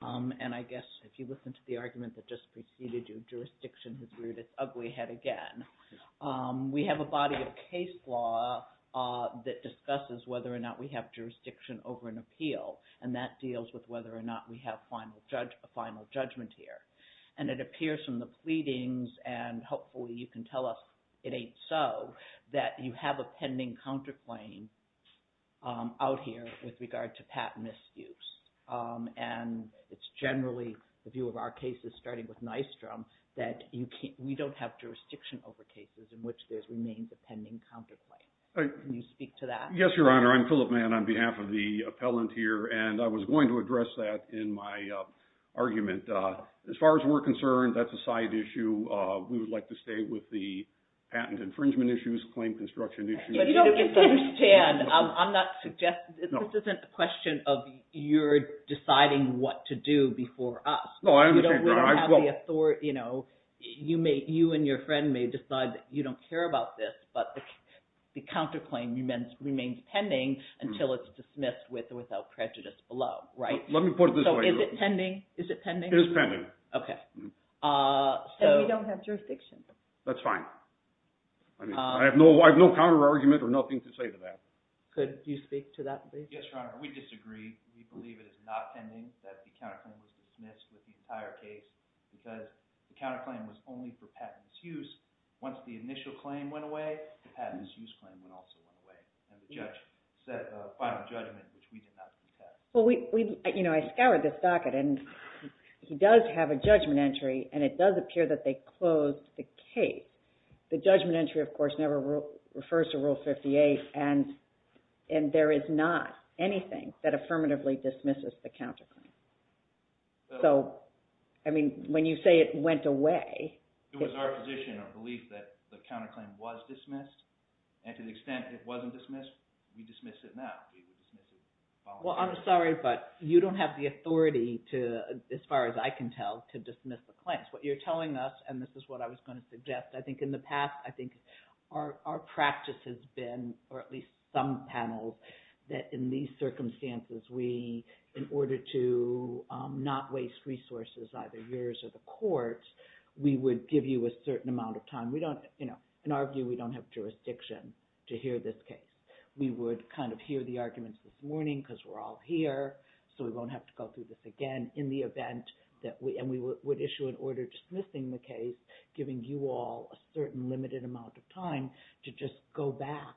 And I guess if you listen to the argument that just preceded you, jurisdiction is weird, it's ugly head again. We have a body of case law that discusses whether or not we have jurisdiction over an appeal, and that deals with whether or not we have a final judgment here. And it appears from the pleadings, and hopefully you can tell us it ain't so, that you have a pending counterclaim out here with regard to patent misuse. And it's generally the view of our cases, starting with Nystrom, that we don't have jurisdiction over cases in which there's remained a pending counterclaim. Can you speak to that? Yes, Your Honor. I'm Philip Mann on behalf of the appellant here, and I was going to address that in my argument. As far as we're concerned, that's a side issue. We would like to stay with the patent infringement issues, claim construction issues. You don't get to understand. I'm not suggesting. This isn't a question of your deciding what to do before us. No, I understand, Your Honor. You and your friend may decide that you don't care about this, but the counterclaim remains pending until it's dismissed with or without prejudice below, right? Let me put it this way. So is it pending? It is pending. Okay. And we don't have jurisdiction. That's fine. I have no counterargument or nothing to say to that. Could you speak to that, please? Yes, Your Honor. We disagree. We believe it is not pending, that the counterclaim was dismissed with the entire case because the counterclaim was only for patent misuse. Once the initial claim went away, the patent misuse claim also went away, and the judge set a final judgment which we did not contest. Well, I scoured this docket, and he does have a judgment entry, and it does appear that they closed the case. The judgment entry, of course, never refers to Rule 58, and there is not anything that affirmatively dismisses the counterclaim. So, I mean, when you say it went away. It was our position or belief that the counterclaim was dismissed, and to the extent it wasn't dismissed, we dismiss it now. Well, I'm sorry, but you don't have the authority, as far as I can tell, to dismiss the claims. What you're telling us, and this is what I was going to suggest, I think in the past our practice has been, or at least some panels, that in these circumstances, in order to not waste resources, either yours or the court's, we would give you a certain amount of time. In our view, we don't have jurisdiction to hear this case. We would kind of hear the arguments this morning because we're all here, so we won't have to go through this again in the event that we, and we would issue an order dismissing the case, giving you all a certain limited amount of time to just go back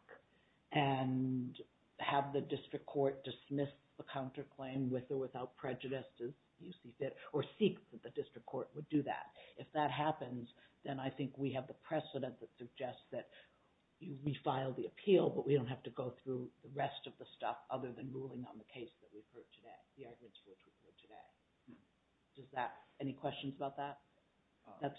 and have the district court dismiss the counterclaim with or without prejudice, as you see fit, or seek that the district court would do that. If that happens, then I think we have the precedent that suggests that we file the appeal, but we don't have to go through the rest of the stuff other than ruling on the case that we've heard today, the arguments that we've heard today. Any questions about that? That's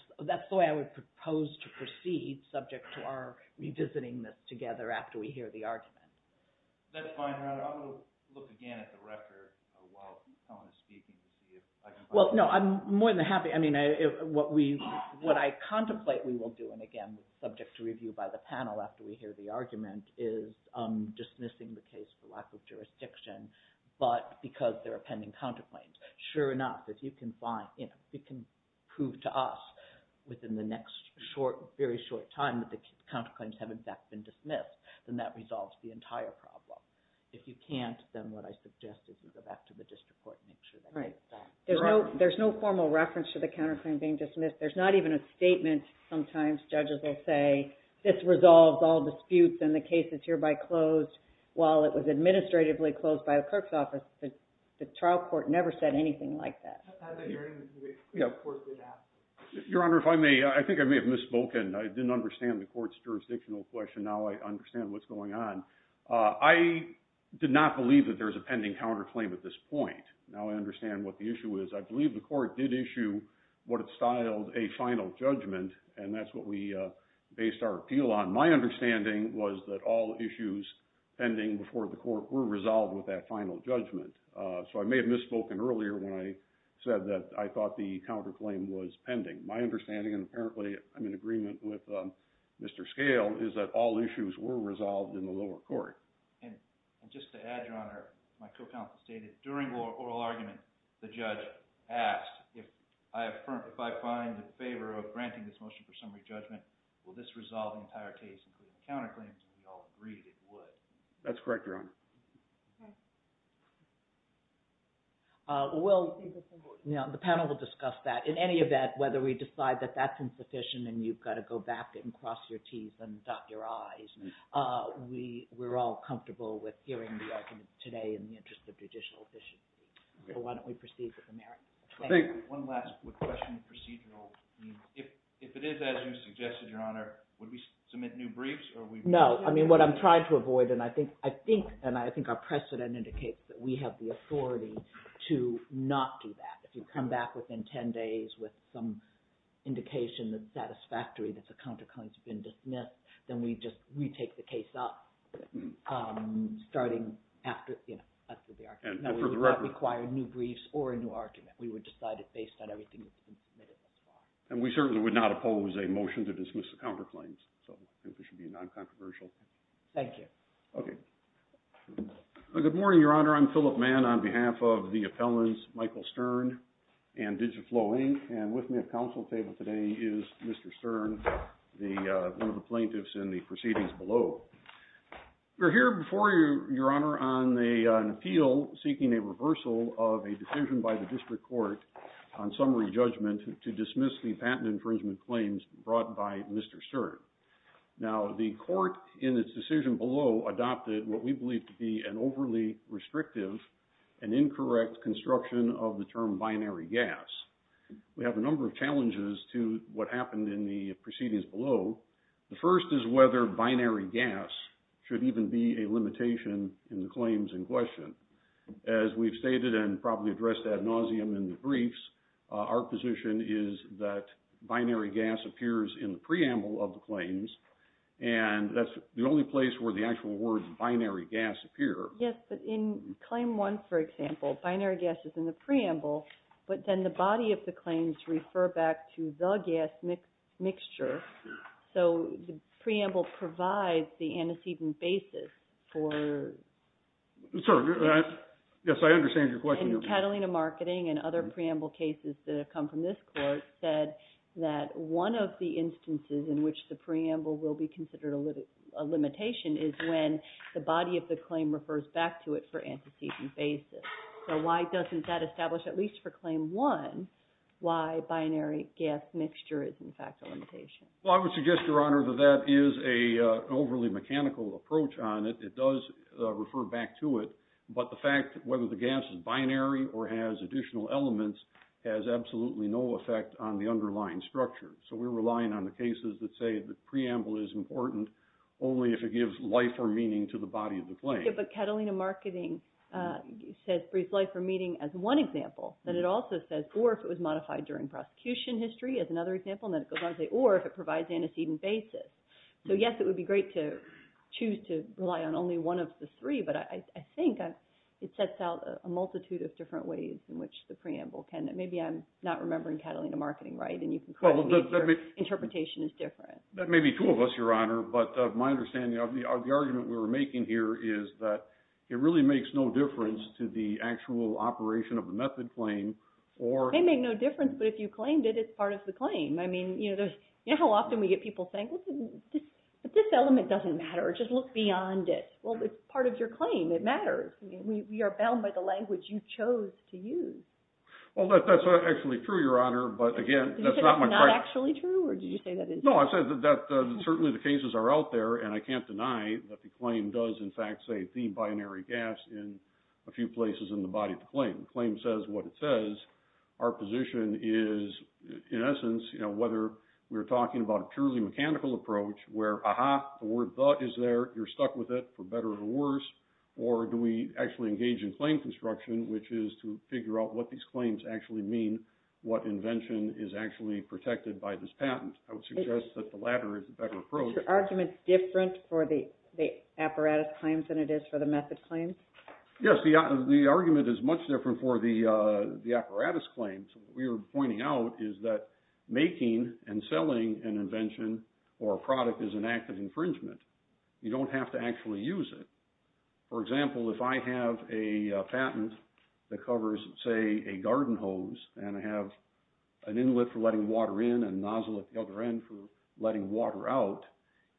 the way I would propose to proceed, subject to our revisiting this together after we hear the argument. That's fine, Your Honor. I'm going to look again at the record while Helen is speaking. Well, no, I'm more than happy. What I contemplate we will do, and again, subject to review by the panel after we hear the argument, is dismissing the case for lack of jurisdiction, but because there are pending counterclaims. Sure enough, if you can prove to us within the next very short time that the counterclaims have, in fact, been dismissed, then that resolves the entire problem. If you can't, then what I suggest is we go back to the district court and make sure that happens. There's no formal reference to the counterclaim being dismissed. There's not even a statement. Sometimes judges will say, this resolves all disputes and the case is hereby closed. While it was administratively closed by the clerk's office, the trial court never said anything like that. Your Honor, if I may, I think I may have misspoken. I didn't understand the court's jurisdictional question. Now I understand what's going on. I did not believe that there was a pending counterclaim at this point. Now I understand what the issue is. I believe the court did issue what it styled a final judgment, and that's what we based our appeal on. My understanding was that all issues pending before the court were resolved with that final judgment. So I may have misspoken earlier when I said that I thought the counterclaim was pending. My understanding, and apparently I'm in agreement with Mr. Scale, is that all issues were resolved in the lower court. And just to add, Your Honor, my co-counsel stated during the oral argument the judge asked, if I find the favor of granting this motion for summary judgment, will this resolve the entire case, including the counterclaims? And we all agreed it would. That's correct, Your Honor. Well, the panel will discuss that. In any event, whether we decide that that's insufficient and you've got to go back and cross your teeth and dot your I's, we're all comfortable with hearing the argument today in the interest of judicial efficiency. So why don't we proceed with the merits? Thank you. One last quick question, procedural. If it is as you suggested, Your Honor, would we submit new briefs? No. I mean, what I'm trying to avoid, and I think our precedent indicates that we have the authority to not do that. If you come back within 10 days with some indication that it's satisfactory that the counterclaims have been dismissed, then we just retake the case up starting after the argument. And for the record. We would not require new briefs or a new argument. We would decide it based on everything that's been submitted as well. And we certainly would not oppose a motion to dismiss the counterclaims. So I think this should be non-controversial. Thank you. Okay. Good morning, Your Honor. I'm Philip Mann on behalf of the appellants, Michael Stern and DigiFlow, Inc. And with me at the council table today is Mr. Stern, one of the plaintiffs in the proceedings below. We're here before you, Your Honor, on an appeal seeking a reversal of a decision by the district court on summary judgment to dismiss the patent infringement claims brought by Mr. Stern. Now, the court in its decision below adopted what we believe to be an overly restrictive and incorrect construction of the term binary gas. We have a number of challenges to what happened in the proceedings below. The first is whether binary gas should even be a limitation in the claims in question. As we've stated and probably addressed ad nauseum in the briefs, our position is that binary gas appears in the preamble of the claims. And that's the only place where the actual word binary gas appear. Yes. But in claim one, for example, binary gas is in the preamble. But then the body of the claims refer back to the gas mixture. So the preamble provides the antecedent basis for. Sir, yes, I understand your question. Catalina Marketing and other preamble cases that have come from this court said that one of the instances in which the preamble will be considered a limitation is when the body of the claim refers back to it for antecedent basis. So why doesn't that establish at least for claim one why binary gas mixture is in fact a limitation? Well, I would suggest, Your Honor, that that is an overly mechanical approach on it. It does refer back to it. But the fact whether the gas is binary or has additional elements has absolutely no effect on the underlying structure. So we're relying on the cases that say the preamble is important only if it gives life or meaning to the body of the claim. But Catalina Marketing says it gives life or meaning as one example. But it also says or if it was modified during prosecution history as another example. And then it goes on to say or if it provides antecedent basis. So, yes, it would be great to choose to rely on only one of the three. But I think it sets out a multitude of different ways in which the preamble can. Maybe I'm not remembering Catalina Marketing right and your interpretation is different. That may be true of us, Your Honor. But my understanding of the argument we were making here is that it really makes no difference to the actual operation of the method claim. It may make no difference, but if you claimed it, it's part of the claim. I mean, you know how often we get people saying, but this element doesn't matter. Just look beyond it. Well, it's part of your claim. It matters. We are bound by the language you chose to use. Well, that's actually true, Your Honor. But, again, that's not my question. Did you say that's not actually true or did you say that is true? No, I said that certainly the cases are out there, and I can't deny that the claim does, in fact, say the binary gas in a few places in the body of the claim. The claim says what it says. Our position is, in essence, whether we're talking about a purely mechanical approach where, aha, the word thought is there, you're stuck with it, for better or worse, or do we actually engage in claim construction, which is to figure out what these claims actually mean, what invention is actually protected by this patent. I would suggest that the latter is a better approach. Is your argument different for the apparatus claims than it is for the method claims? Yes, the argument is much different for the apparatus claims. What we are pointing out is that making and selling an invention or a product is an act of infringement. You don't have to actually use it. For example, if I have a patent that covers, say, a garden hose and I have an inlet for letting water in and a nozzle at the other end for letting water out,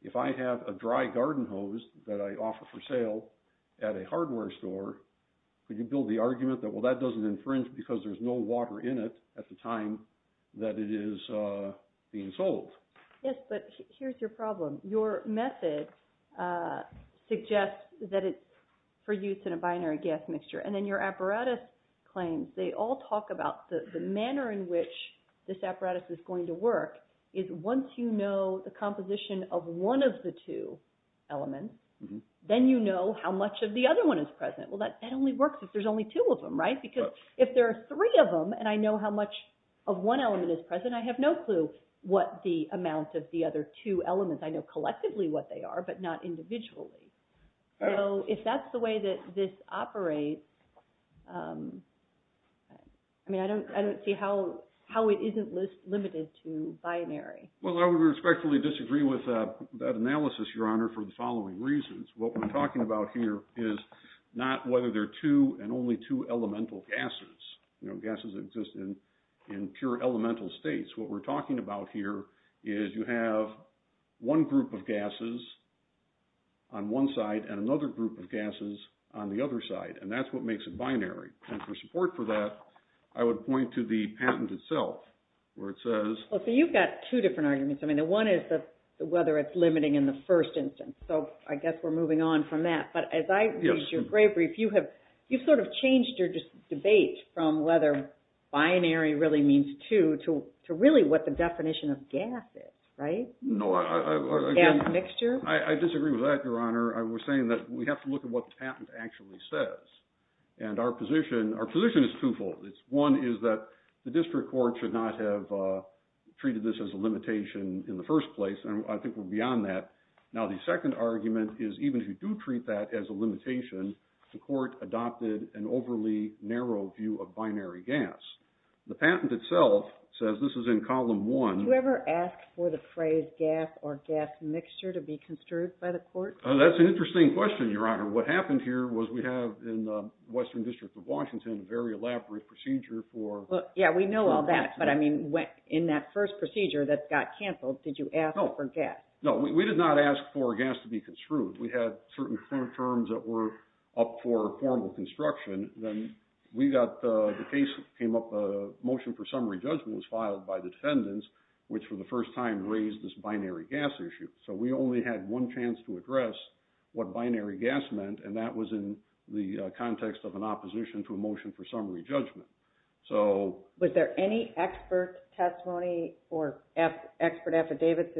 if I have a dry garden hose that I offer for sale at a hardware store, could you build the argument that, well, that doesn't infringe because there's no water in it at the time that it is being sold? Yes, but here's your problem. Your method suggests that it's for use in a binary gas mixture, and then your apparatus claims, they all talk about the manner in which this apparatus is going to work is once you know the composition of one of the two elements, then you know how much of the other one is present. Well, that only works if there's only two of them, right? Because if there are three of them and I know how much of one element is present, I have no clue what the amount of the other two elements. I know collectively what they are but not individually. So if that's the way that this operates, I mean, I don't see how it isn't limited to binary. Well, I would respectfully disagree with that analysis, Your Honor, for the following reasons. What we're talking about here is not whether there are two and only two elemental gases. You know, gases exist in pure elemental states. What we're talking about here is you have one group of gases on one side and another group of gases on the other side, and that's what makes it binary. And for support for that, I would point to the patent itself where it says… Well, so you've got two different arguments. I mean, the one is whether it's limiting in the first instance. So I guess we're moving on from that. But as I read your brief, you've sort of changed your debate from whether binary really means two to really what the definition of gas is, right? No, I disagree with that, Your Honor. I was saying that we have to look at what the patent actually says. And our position is twofold. One is that the district court should not have treated this as a limitation in the first place, and I think we're beyond that. Now, the second argument is even if you do treat that as a limitation, the court adopted an overly narrow view of binary gas. The patent itself says this is in column one. Did you ever ask for the phrase gas or gas mixture to be construed by the court? That's an interesting question, Your Honor. What happened here was we have in the Western District of Washington a very elaborate procedure for… Yeah, we know all that, but, I mean, in that first procedure that got canceled, did you ask for gas? No, we did not ask for gas to be construed. We had certain terms that were up for formal construction. The case came up, a motion for summary judgment was filed by the defendants, which for the first time raised this binary gas issue. So we only had one chance to address what binary gas meant, and that was in the context of an opposition to a motion for summary judgment. Was there any expert testimony or expert affidavits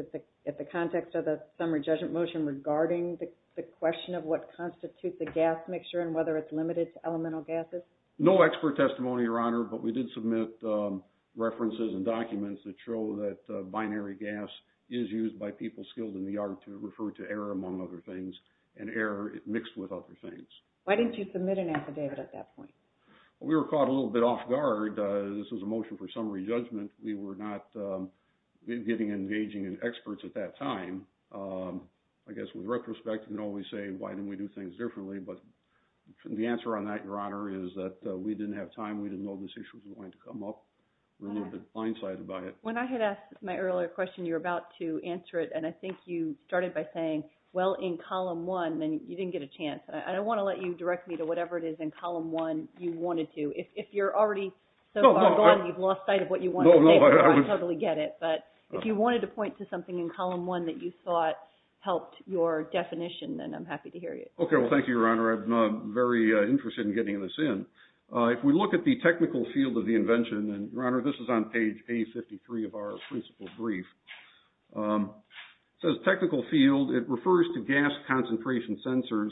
at the context of the summary judgment motion regarding the question of what constitutes a gas mixture and whether it's limited to elemental gases? No expert testimony, Your Honor, but we did submit references and documents that show that binary gas is used by people skilled in the art to refer to air, among other things, and air mixed with other things. Why didn't you submit an affidavit at that point? We were caught a little bit off guard. This was a motion for summary judgment. We were not getting engaging in experts at that time. I guess with retrospect, you know, we say, why didn't we do things differently? But the answer on that, Your Honor, is that we didn't have time. We didn't know this issue was going to come up. We were a little bit blindsided by it. When I had asked my earlier question, you were about to answer it, and I think you started by saying, well, in Column 1, then you didn't get a chance. I don't want to let you direct me to whatever it is in Column 1 you wanted to. If you're already so far gone you've lost sight of what you wanted to say, I totally get it. But if you wanted to point to something in Column 1 that you thought helped your definition, then I'm happy to hear you. Okay, well, thank you, Your Honor. I'm very interested in getting this in. If we look at the technical field of the invention, and, Your Honor, this is on page A53 of our principle brief. It says technical field. It refers to gas concentration sensors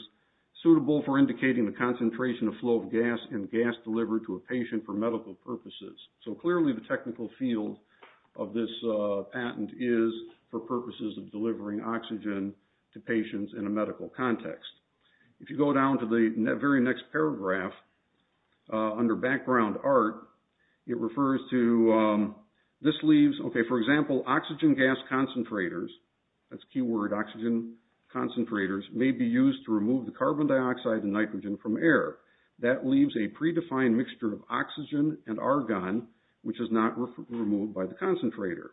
suitable for indicating the concentration of flow of gas and gas delivered to a patient for medical purposes. So clearly the technical field of this patent is for purposes of delivering oxygen to patients in a medical context. If you go down to the very next paragraph under background art, it refers to this leaves, okay, for example, oxygen gas concentrators, that's a key word, oxygen concentrators, may be used to remove the carbon dioxide and nitrogen from air. That leaves a predefined mixture of oxygen and argon, which is not removed by the concentrator.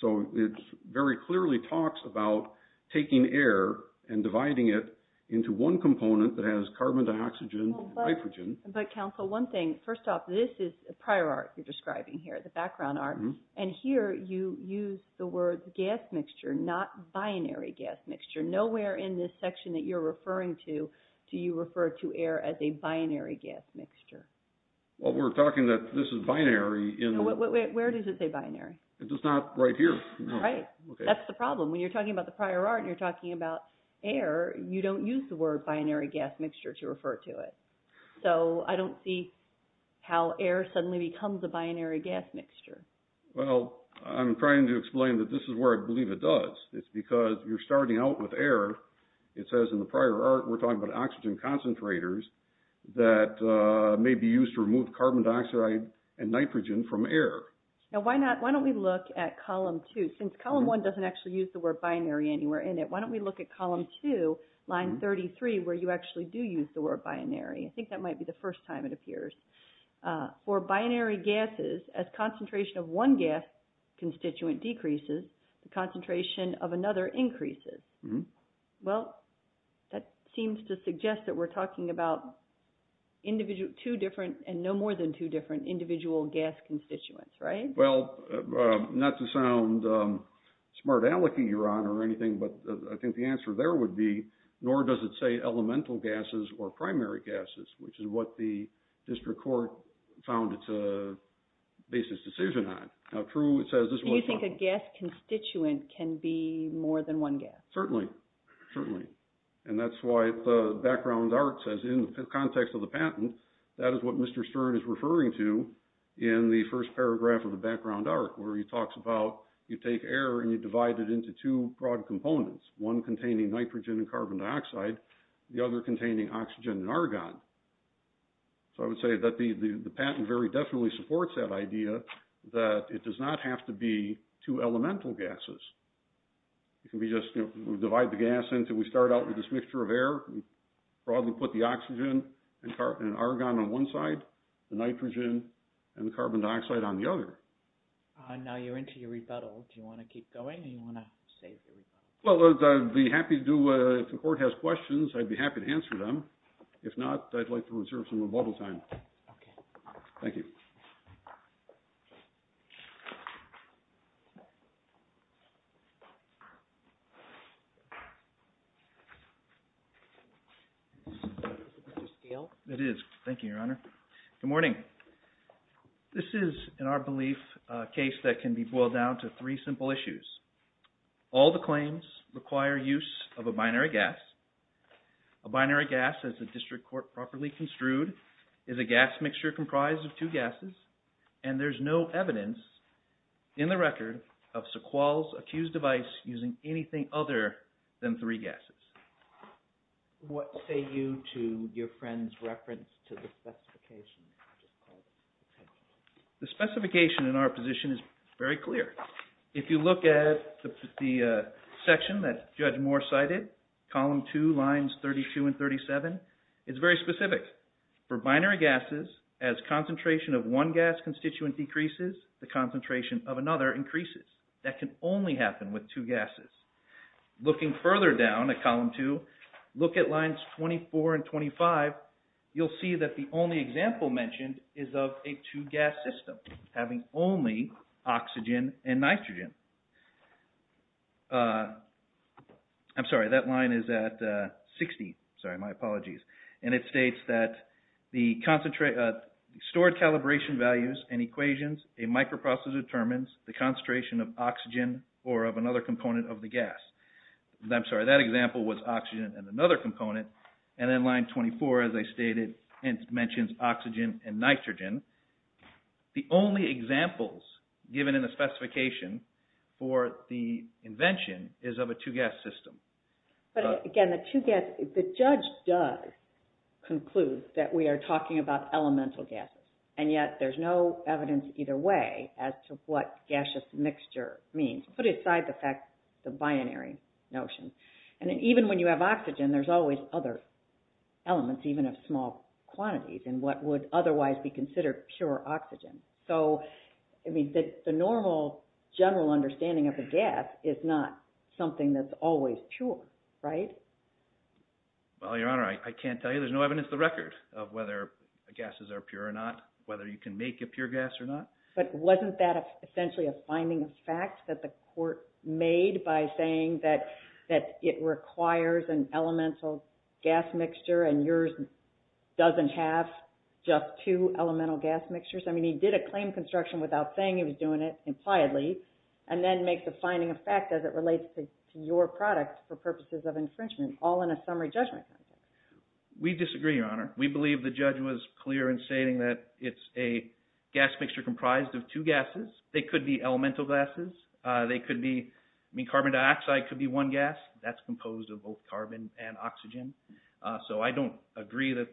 So it very clearly talks about taking air and dividing it into one component that has carbon dioxide and nitrogen. But, counsel, one thing, first off, this is prior art you're describing here, the background art, and here you use the words gas mixture, not binary gas mixture. Nowhere in this section that you're referring to do you refer to air as a binary gas mixture. Well, we're talking that this is binary. Where does it say binary? It does not right here. Right. That's the problem. When you're talking about the prior art and you're talking about air, you don't use the word binary gas mixture to refer to it. So I don't see how air suddenly becomes a binary gas mixture. Well, I'm trying to explain that this is where I believe it does. It's because you're starting out with air. It says in the prior art we're talking about oxygen concentrators that may be used to remove carbon dioxide and nitrogen from air. Now, why don't we look at column two? Since column one doesn't actually use the word binary anywhere in it, why don't we look at column two, line 33, where you actually do use the word binary? I think that might be the first time it appears. For binary gases, as concentration of one gas constituent decreases, the concentration of another increases. Well, that seems to suggest that we're talking about two different and no more than two different individual gas constituents, right? Well, not to sound smart-alecky, Your Honor, or anything, but I think the answer there would be, nor does it say elemental gases or primary gases, which is what the district court found its basis decision on. Now, true, it says this is what it sounds like. Do you think a gas constituent can be more than one gas? Certainly. Certainly. And that's why the background art says in the context of the patent, that is what Mr. Stern is referring to in the first paragraph of the background art, where he talks about you take air and you divide it into two broad components, one containing nitrogen and carbon dioxide, the other containing oxygen and argon. So I would say that the patent very definitely supports that idea, that it does not have to be two elemental gases. It can be just divide the gas into, we start out with this mixture of air, broadly put the oxygen and argon on one side, the nitrogen and the carbon dioxide on the other. Now you're into your rebuttal. Do you want to keep going or do you want to save it? Well, I'd be happy to do, if the court has questions, I'd be happy to answer them. If not, I'd like to reserve some rebuttal time. Okay. Thank you. Mr. Steele? It is. Thank you, Your Honor. Good morning. This is, in our belief, a case that can be boiled down to three simple issues. All the claims require use of a binary gas. A binary gas, as the district court properly construed, is a gas mixture comprised of two gases, and there's no evidence in the record of Sequel's accused device using anything other than three gases. What say you to your friend's reference to the specification? The specification in our position is very clear. If you look at the section that Judge Moore cited, column two, lines 32 and 37, it's very specific. For binary gases, as concentration of one gas constituent decreases, the concentration of another increases. That can only happen with two gases. Looking further down at column two, look at lines 24 and 25. You'll see that the only example mentioned is of a two-gas system, having only oxygen and nitrogen. I'm sorry, that line is at 60. Sorry, my apologies. And it states that the stored calibration values and equations, a microprocessor determines the concentration of oxygen or of another component of the gas. I'm sorry, that example was oxygen and another component. And then line 24, as I stated, mentions oxygen and nitrogen. The only examples given in the specification for the invention is of a two-gas system. But, again, the judge does conclude that we are talking about elemental gases, and yet there's no evidence either way as to what gaseous mixture means. Put aside the fact, the binary notion. And even when you have oxygen, there's always other elements, even of small quantities in what would otherwise be considered pure oxygen. So, I mean, the normal general understanding of a gas is not something that's always pure, right? Well, Your Honor, I can't tell you. There's no evidence to the record of whether gases are pure or not, whether you can make a pure gas or not. But wasn't that essentially a finding of fact that the court made by saying that it requires an elemental gas mixture and yours doesn't have just two elemental gas mixtures? I mean, he did a claim construction without saying he was doing it, impliedly, and then makes a finding of fact as it relates to your product for purposes of infringement, all in a summary judgment. We disagree, Your Honor. We believe the judge was clear in stating that it's a gas mixture comprised of two gases. They could be elemental gases. They could be, I mean, carbon dioxide could be one gas. That's composed of both carbon and oxygen. So I don't agree that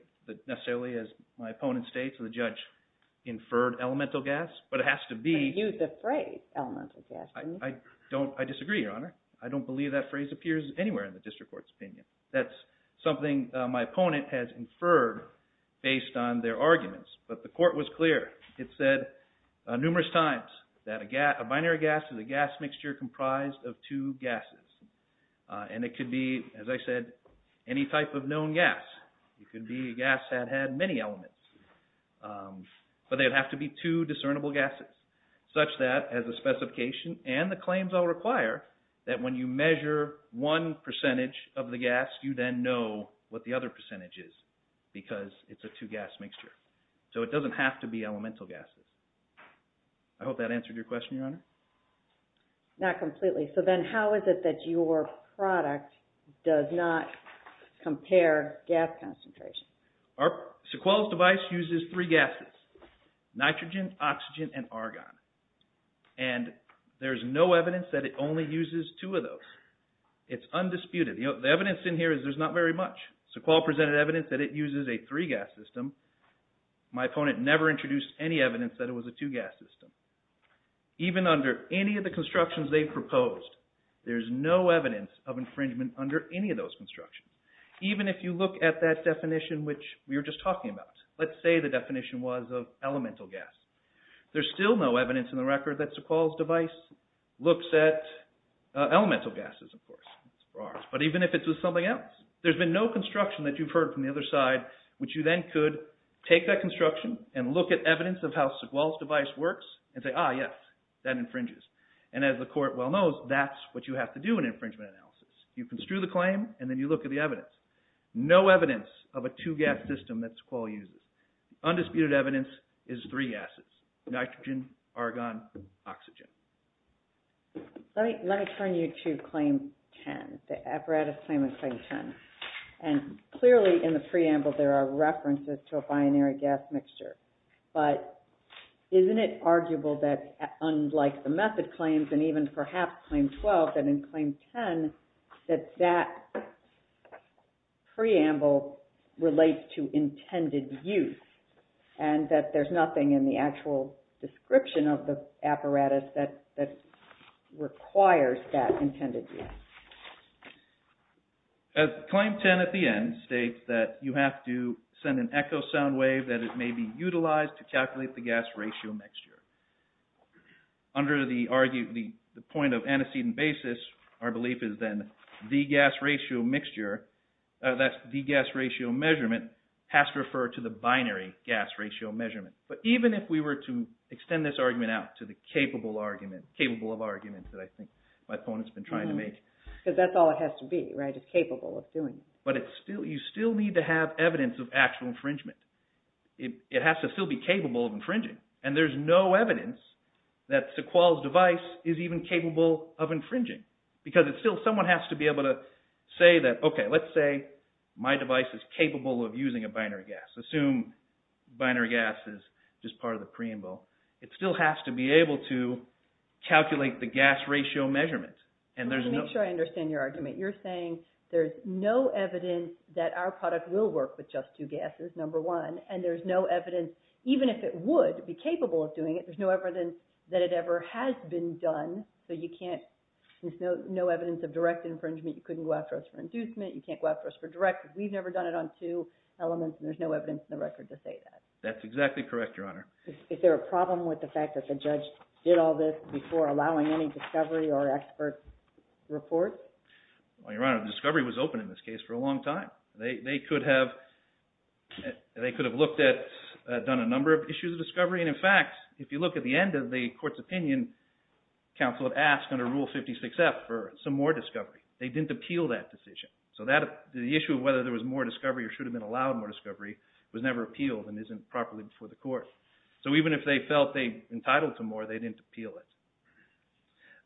necessarily, as my opponent states, the judge inferred elemental gas, but it has to be. But you defrayed elemental gas. I disagree, Your Honor. I don't believe that phrase appears anywhere in the district court's opinion. That's something my opponent has inferred based on their arguments. But the court was clear. It said numerous times that a binary gas is a gas mixture comprised of two gases. And it could be, as I said, any type of known gas. It could be a gas that had many elements. But they'd have to be two discernible gases, such that as a specification and the claims I'll require, that when you measure one percentage of the gas, you then know what the other percentage is, because it's a two-gas mixture. So it doesn't have to be elemental gases. I hope that answered your question, Your Honor. Not completely. So then how is it that your product does not compare gas concentrations? Sequel's device uses three gases, nitrogen, oxygen, and argon. And there's no evidence that it only uses two of those. It's undisputed. The evidence in here is there's not very much. Sequel presented evidence that it uses a three-gas system. My opponent never introduced any evidence that it was a two-gas system. Even under any of the constructions they've proposed, there's no evidence of infringement under any of those constructions. Even if you look at that definition which we were just talking about. Let's say the definition was of elemental gas. There's still no evidence in the record that Sequel's device looks at elemental gases, of course. But even if it's with something else, there's been no construction that you've heard from the other side which you then could take that construction and look at evidence of how Sequel's device works and say, ah, yes, that infringes. And as the court well knows, that's what you have to do in infringement analysis. You construe the claim, and then you look at the evidence. No evidence of a two-gas system that Sequel uses. Undisputed evidence is three gases, nitrogen, argon, oxygen. Let me turn you to Claim 10, the apparatus claim in Claim 10. And clearly in the preamble there are references to a binary gas mixture. But isn't it arguable that unlike the method claims and even perhaps Claim 12, that in Claim 10, that that preamble relates to intended use and that there's nothing in the actual description of the apparatus that requires that intended use? Claim 10 at the end states that you have to send an echo sound wave that it may be utilized to calculate the gas ratio mixture. Under the point of antecedent basis, our belief is then the gas ratio mixture, that's the gas ratio measurement, has to refer to the binary gas ratio measurement. But even if we were to extend this argument out to the capable argument, capable of argument that I think my opponent's been trying to make. Because that's all it has to be, right? It's capable of doing it. But you still need to have evidence of actual infringement. It has to still be capable of infringing. And there's no evidence that Sequel's device is even capable of infringing. Because someone has to be able to say that, okay, let's say my device is capable of using a binary gas. Assume binary gas is just part of the preamble. It still has to be able to calculate the gas ratio measurement. Let me make sure I understand your argument. You're saying there's no evidence that our product will work with just two gases, number one, and there's no evidence, even if it would be capable of doing it, there's no evidence that it ever has been done. So you can't, there's no evidence of direct infringement. You couldn't go after us for inducement. You can't go after us for direct. We've never done it on two elements, and there's no evidence in the record to say that. That's exactly correct, Your Honor. Is there a problem with the fact that the judge did all this before allowing any discovery or expert report? Well, Your Honor, the discovery was open in this case for a long time. They could have looked at, done a number of issues of discovery. In fact, if you look at the end of the court's opinion, counsel had asked under Rule 56F for some more discovery. They didn't appeal that decision. So the issue of whether there was more discovery or should have been allowed more discovery was never appealed and isn't properly before the court. So even if they felt they were entitled to more, they didn't appeal it.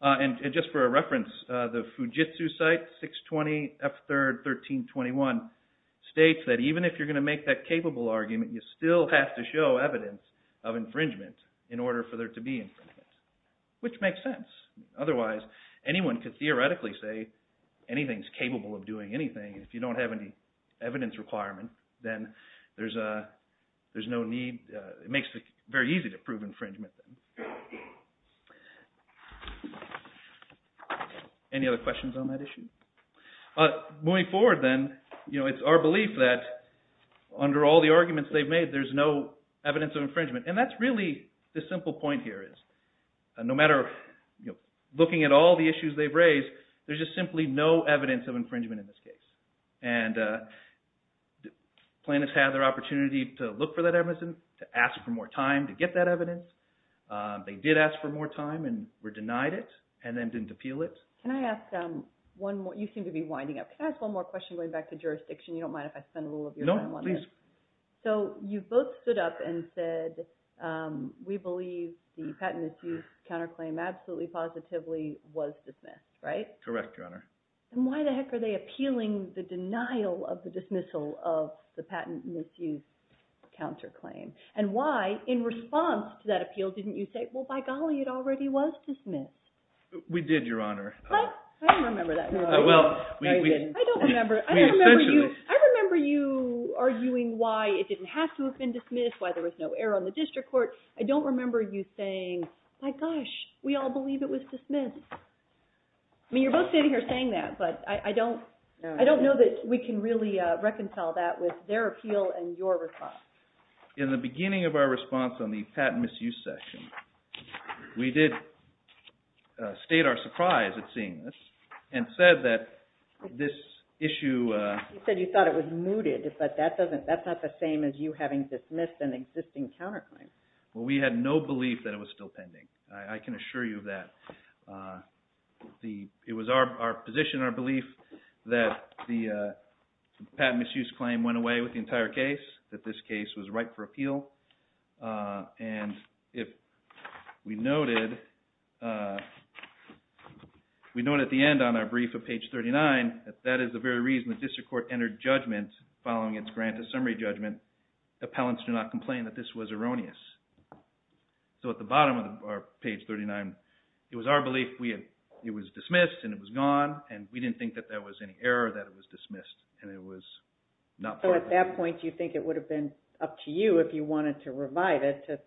And just for a reference, the Fujitsu site, 620F3, 1321, states that even if you're going to make that capable argument, you still have to show evidence of infringement in order for there to be infringement, which makes sense. Otherwise, anyone could theoretically say anything's capable of doing anything. If you don't have any evidence requirement, then there's no need. It makes it very easy to prove infringement. Any other questions on that issue? Moving forward then, it's our belief that under all the arguments they've made, there's no evidence of infringement. And that's really the simple point here. No matter looking at all the issues they've raised, there's just simply no evidence of infringement in this case. And plaintiffs had their opportunity to look for that evidence, to ask for more time to get that evidence. They did ask for more time and were denied it and then didn't appeal it. You seem to be winding up. Can I ask one more question going back to jurisdiction? You don't mind if I spend a little of your time on this? No, please. So you both stood up and said, we believe the patent misuse counterclaim absolutely positively was dismissed, right? Correct, Your Honor. And why the heck are they appealing the denial of the dismissal of the patent misuse counterclaim? And why, in response to that appeal, didn't you say, well, by golly, it already was dismissed? We did, Your Honor. I don't remember that. I don't remember. I remember you arguing why it didn't have to have been dismissed, why there was no error on the district court. I don't remember you saying, my gosh, we all believe it was dismissed. I mean, you're both sitting here saying that, but I don't know that we can really reconcile that with their appeal and your response. In the beginning of our response on the patent misuse section, we did state our surprise at seeing this and said that this issue... You said you thought it was mooted, but that's not the same as you having dismissed an existing counterclaim. Well, we had no belief that it was still pending. I can assure you of that. It was our position, our belief, that the patent misuse claim went away with the entire case, that this case was ripe for appeal. And if we noted at the end on our brief of page 39, that that is the very reason the district court entered judgment following its grant of summary judgment, appellants do not complain that this was erroneous. So at the bottom of page 39, it was our belief it was dismissed and it was gone, and we didn't think that there was any error that it was dismissed and it was not... So at that point you think it would have been up to you if you wanted to revive it to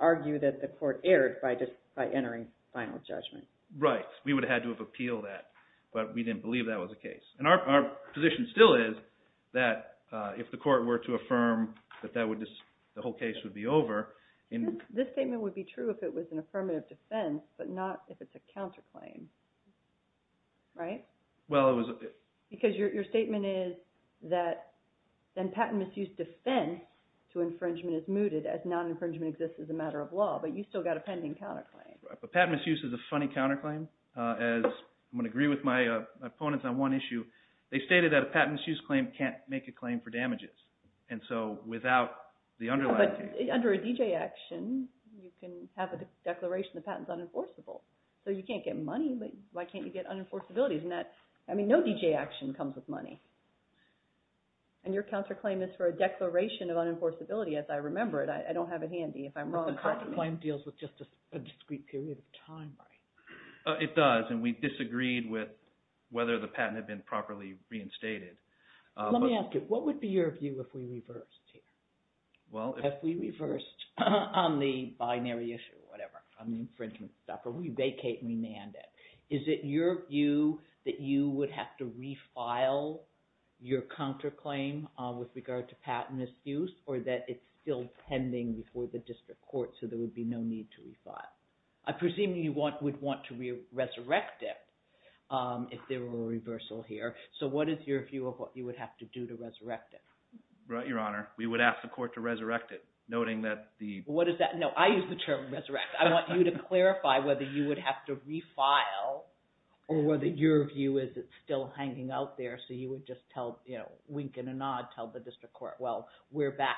argue that the court erred by entering final judgment. Right. We would have had to have appealed that, but we didn't believe that was the case. And our position still is that if the court were to affirm that the whole case would be over... This statement would be true if it was an affirmative defense, but not if it's a counterclaim. Right? Well, it was... Because your statement is that patent misuse defense to infringement is mooted as non-infringement exists as a matter of law, but you still got a pending counterclaim. But patent misuse is a funny counterclaim, as I'm going to agree with my opponents on one issue. They stated that a patent misuse claim can't make a claim for damages. And so without the underlying... But under a D.J. action, you can have a declaration the patent's unenforceable. So you can't get money, but why can't you get unenforceability? I mean, no D.J. action comes with money. And your counterclaim is for a declaration of unenforceability, as I remember it. I don't have it handy if I'm wrong. The counterclaim deals with just a discrete period of time. It does, and we disagreed with whether the patent had been properly reinstated. Let me ask you, what would be your view if we reversed here? If we reversed on the binary issue or whatever, on the infringement stuff, or we vacate and remand it, is it your view that you would have to refile your counterclaim with regard to patent misuse, or that it's still pending before the district court so there would be no need to refile? I presume you would want to resurrect it if there were a reversal here. So what is your view of what you would have to do to resurrect it? Right, Your Honor. We would ask the court to resurrect it, noting that the... What is that? No, I use the term resurrect. I want you to clarify whether you would have to refile or whether your view is it's still hanging out there so you would just tell, wink and a nod, tell the district court, well, we're back.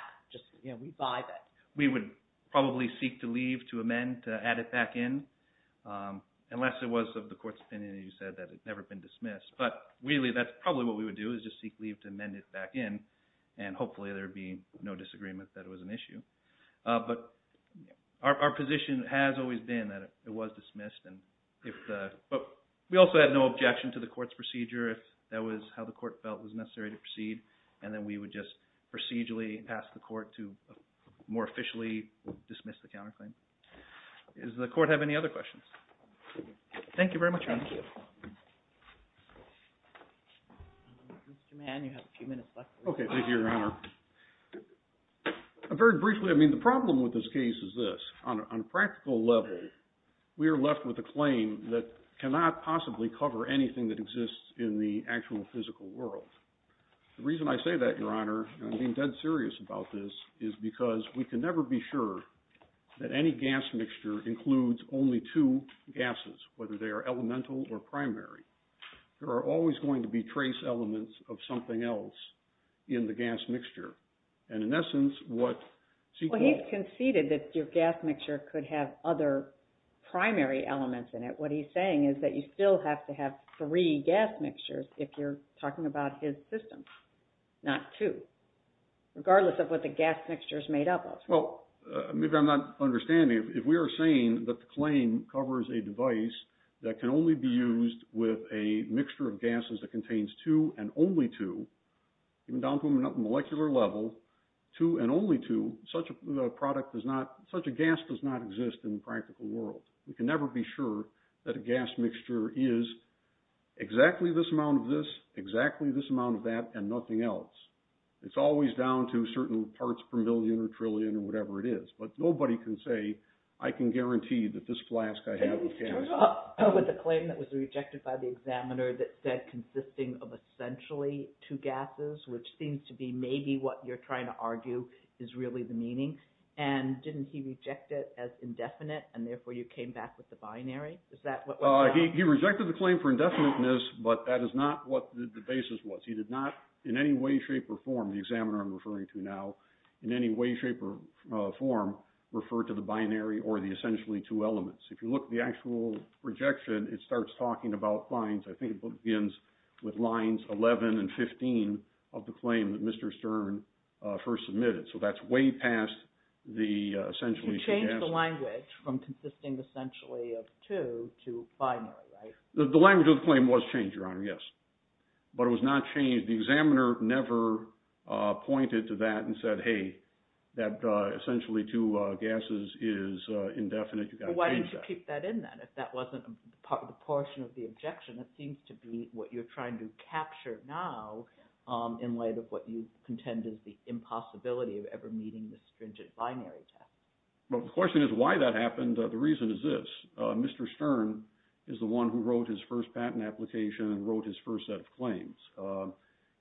We buy that. We would probably seek to leave to amend to add it back in, unless it was of the court's opinion, as you said, that it's never been dismissed. But really that's probably what we would do is just seek leave to amend it back in, and hopefully there would be no disagreement that it was an issue. But our position has always been that it was dismissed. But we also had no objection to the court's procedure if that was how the court felt it was necessary to proceed, and that we would just procedurally ask the court to more officially dismiss the counterclaim. Does the court have any other questions? Thank you very much, Your Honor. Thank you. Mr. Mann, you have a few minutes left. Okay, thank you, Your Honor. Very briefly, I mean, the problem with this case is this. On a practical level, we are left with a claim that cannot possibly cover anything that exists in the actual physical world. The reason I say that, Your Honor, and I'm being dead serious about this, is because we can never be sure that any gas mixture includes only two gases, whether they are elemental or primary. There are always going to be trace elements of something else in the gas mixture. And in essence, what... Well, he's conceded that your gas mixture could have other primary elements in it. What he's saying is that you still have to have three gas mixtures if you're talking about his system, not two, regardless of what the gas mixture is made up of. Well, maybe I'm not understanding. If we are saying that the claim covers a device that can only be used with a mixture of gases that contains two and only two, even down to a molecular level, two and only two, such a product does not... such a gas does not exist in the practical world. We can never be sure that a gas mixture is exactly this amount of this, exactly this amount of that, and nothing else. It's always down to certain parts per million or trillion or whatever it is, but nobody can say, I can guarantee that this flask I have... He came up with a claim that was rejected by the examiner that said consisting of essentially two gases, which seems to be maybe what you're trying to argue is really the meaning, and didn't he reject it as indefinite and therefore you came back with the binary? Is that what... He rejected the claim for indefiniteness, but that is not what the basis was. He did not in any way, shape, or form, the examiner I'm referring to now, in any way, shape, or form, refer to the binary or the essentially two elements. If you look at the actual rejection, it starts talking about lines, I think it begins with lines 11 and 15 of the claim that Mr. Stern first submitted, so that's way past the essentially two gases. He changed the language from consisting essentially of two to binary, right? The language of the claim was changed, Your Honor, yes, but it was not changed. The examiner never pointed to that and said, hey, that essentially two gases is indefinite, you've got to change that. How do you keep that in then? If that wasn't a portion of the objection, it seems to be what you're trying to capture now in light of what you contend is the impossibility of ever meeting the stringent binary test. Well, the question is why that happened. The reason is this. Mr. Stern is the one who wrote his first patent application and wrote his first set of claims.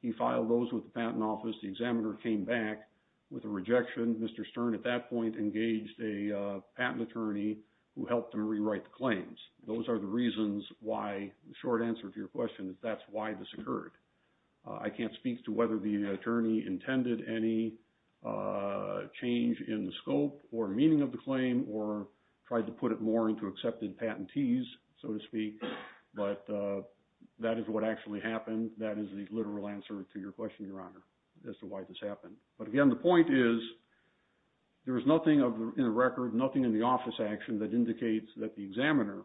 He filed those with the Patent Office. The examiner came back with a rejection. Mr. Stern, at that point, engaged a patent attorney who helped him rewrite the claims. Those are the reasons why the short answer to your question is that's why this occurred. I can't speak to whether the attorney intended any change in the scope or meaning of the claim or tried to put it more into accepted patentees, so to speak, but that is what actually happened. That is the literal answer to your question, Your Honor, as to why this happened. But again, the point is there is nothing in the record, nothing in the office action that indicates that the examiner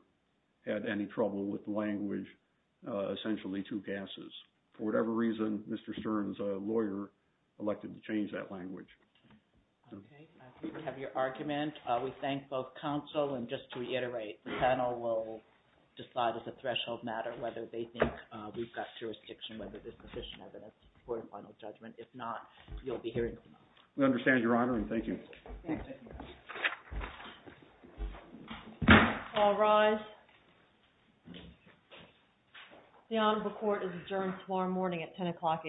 had any trouble with the language, essentially two passes. For whatever reason, Mr. Stern is a lawyer elected to change that language. Okay. I think we have your argument. We thank both counsel, and just to reiterate, the panel will decide as a threshold matter whether they think we've got jurisdiction, whether there's sufficient evidence for a final judgment. If not, you'll be hearing from us. We understand, Your Honor, and thank you. Thank you. All rise. The honorable court is adjourned tomorrow morning at 10 o'clock a.m.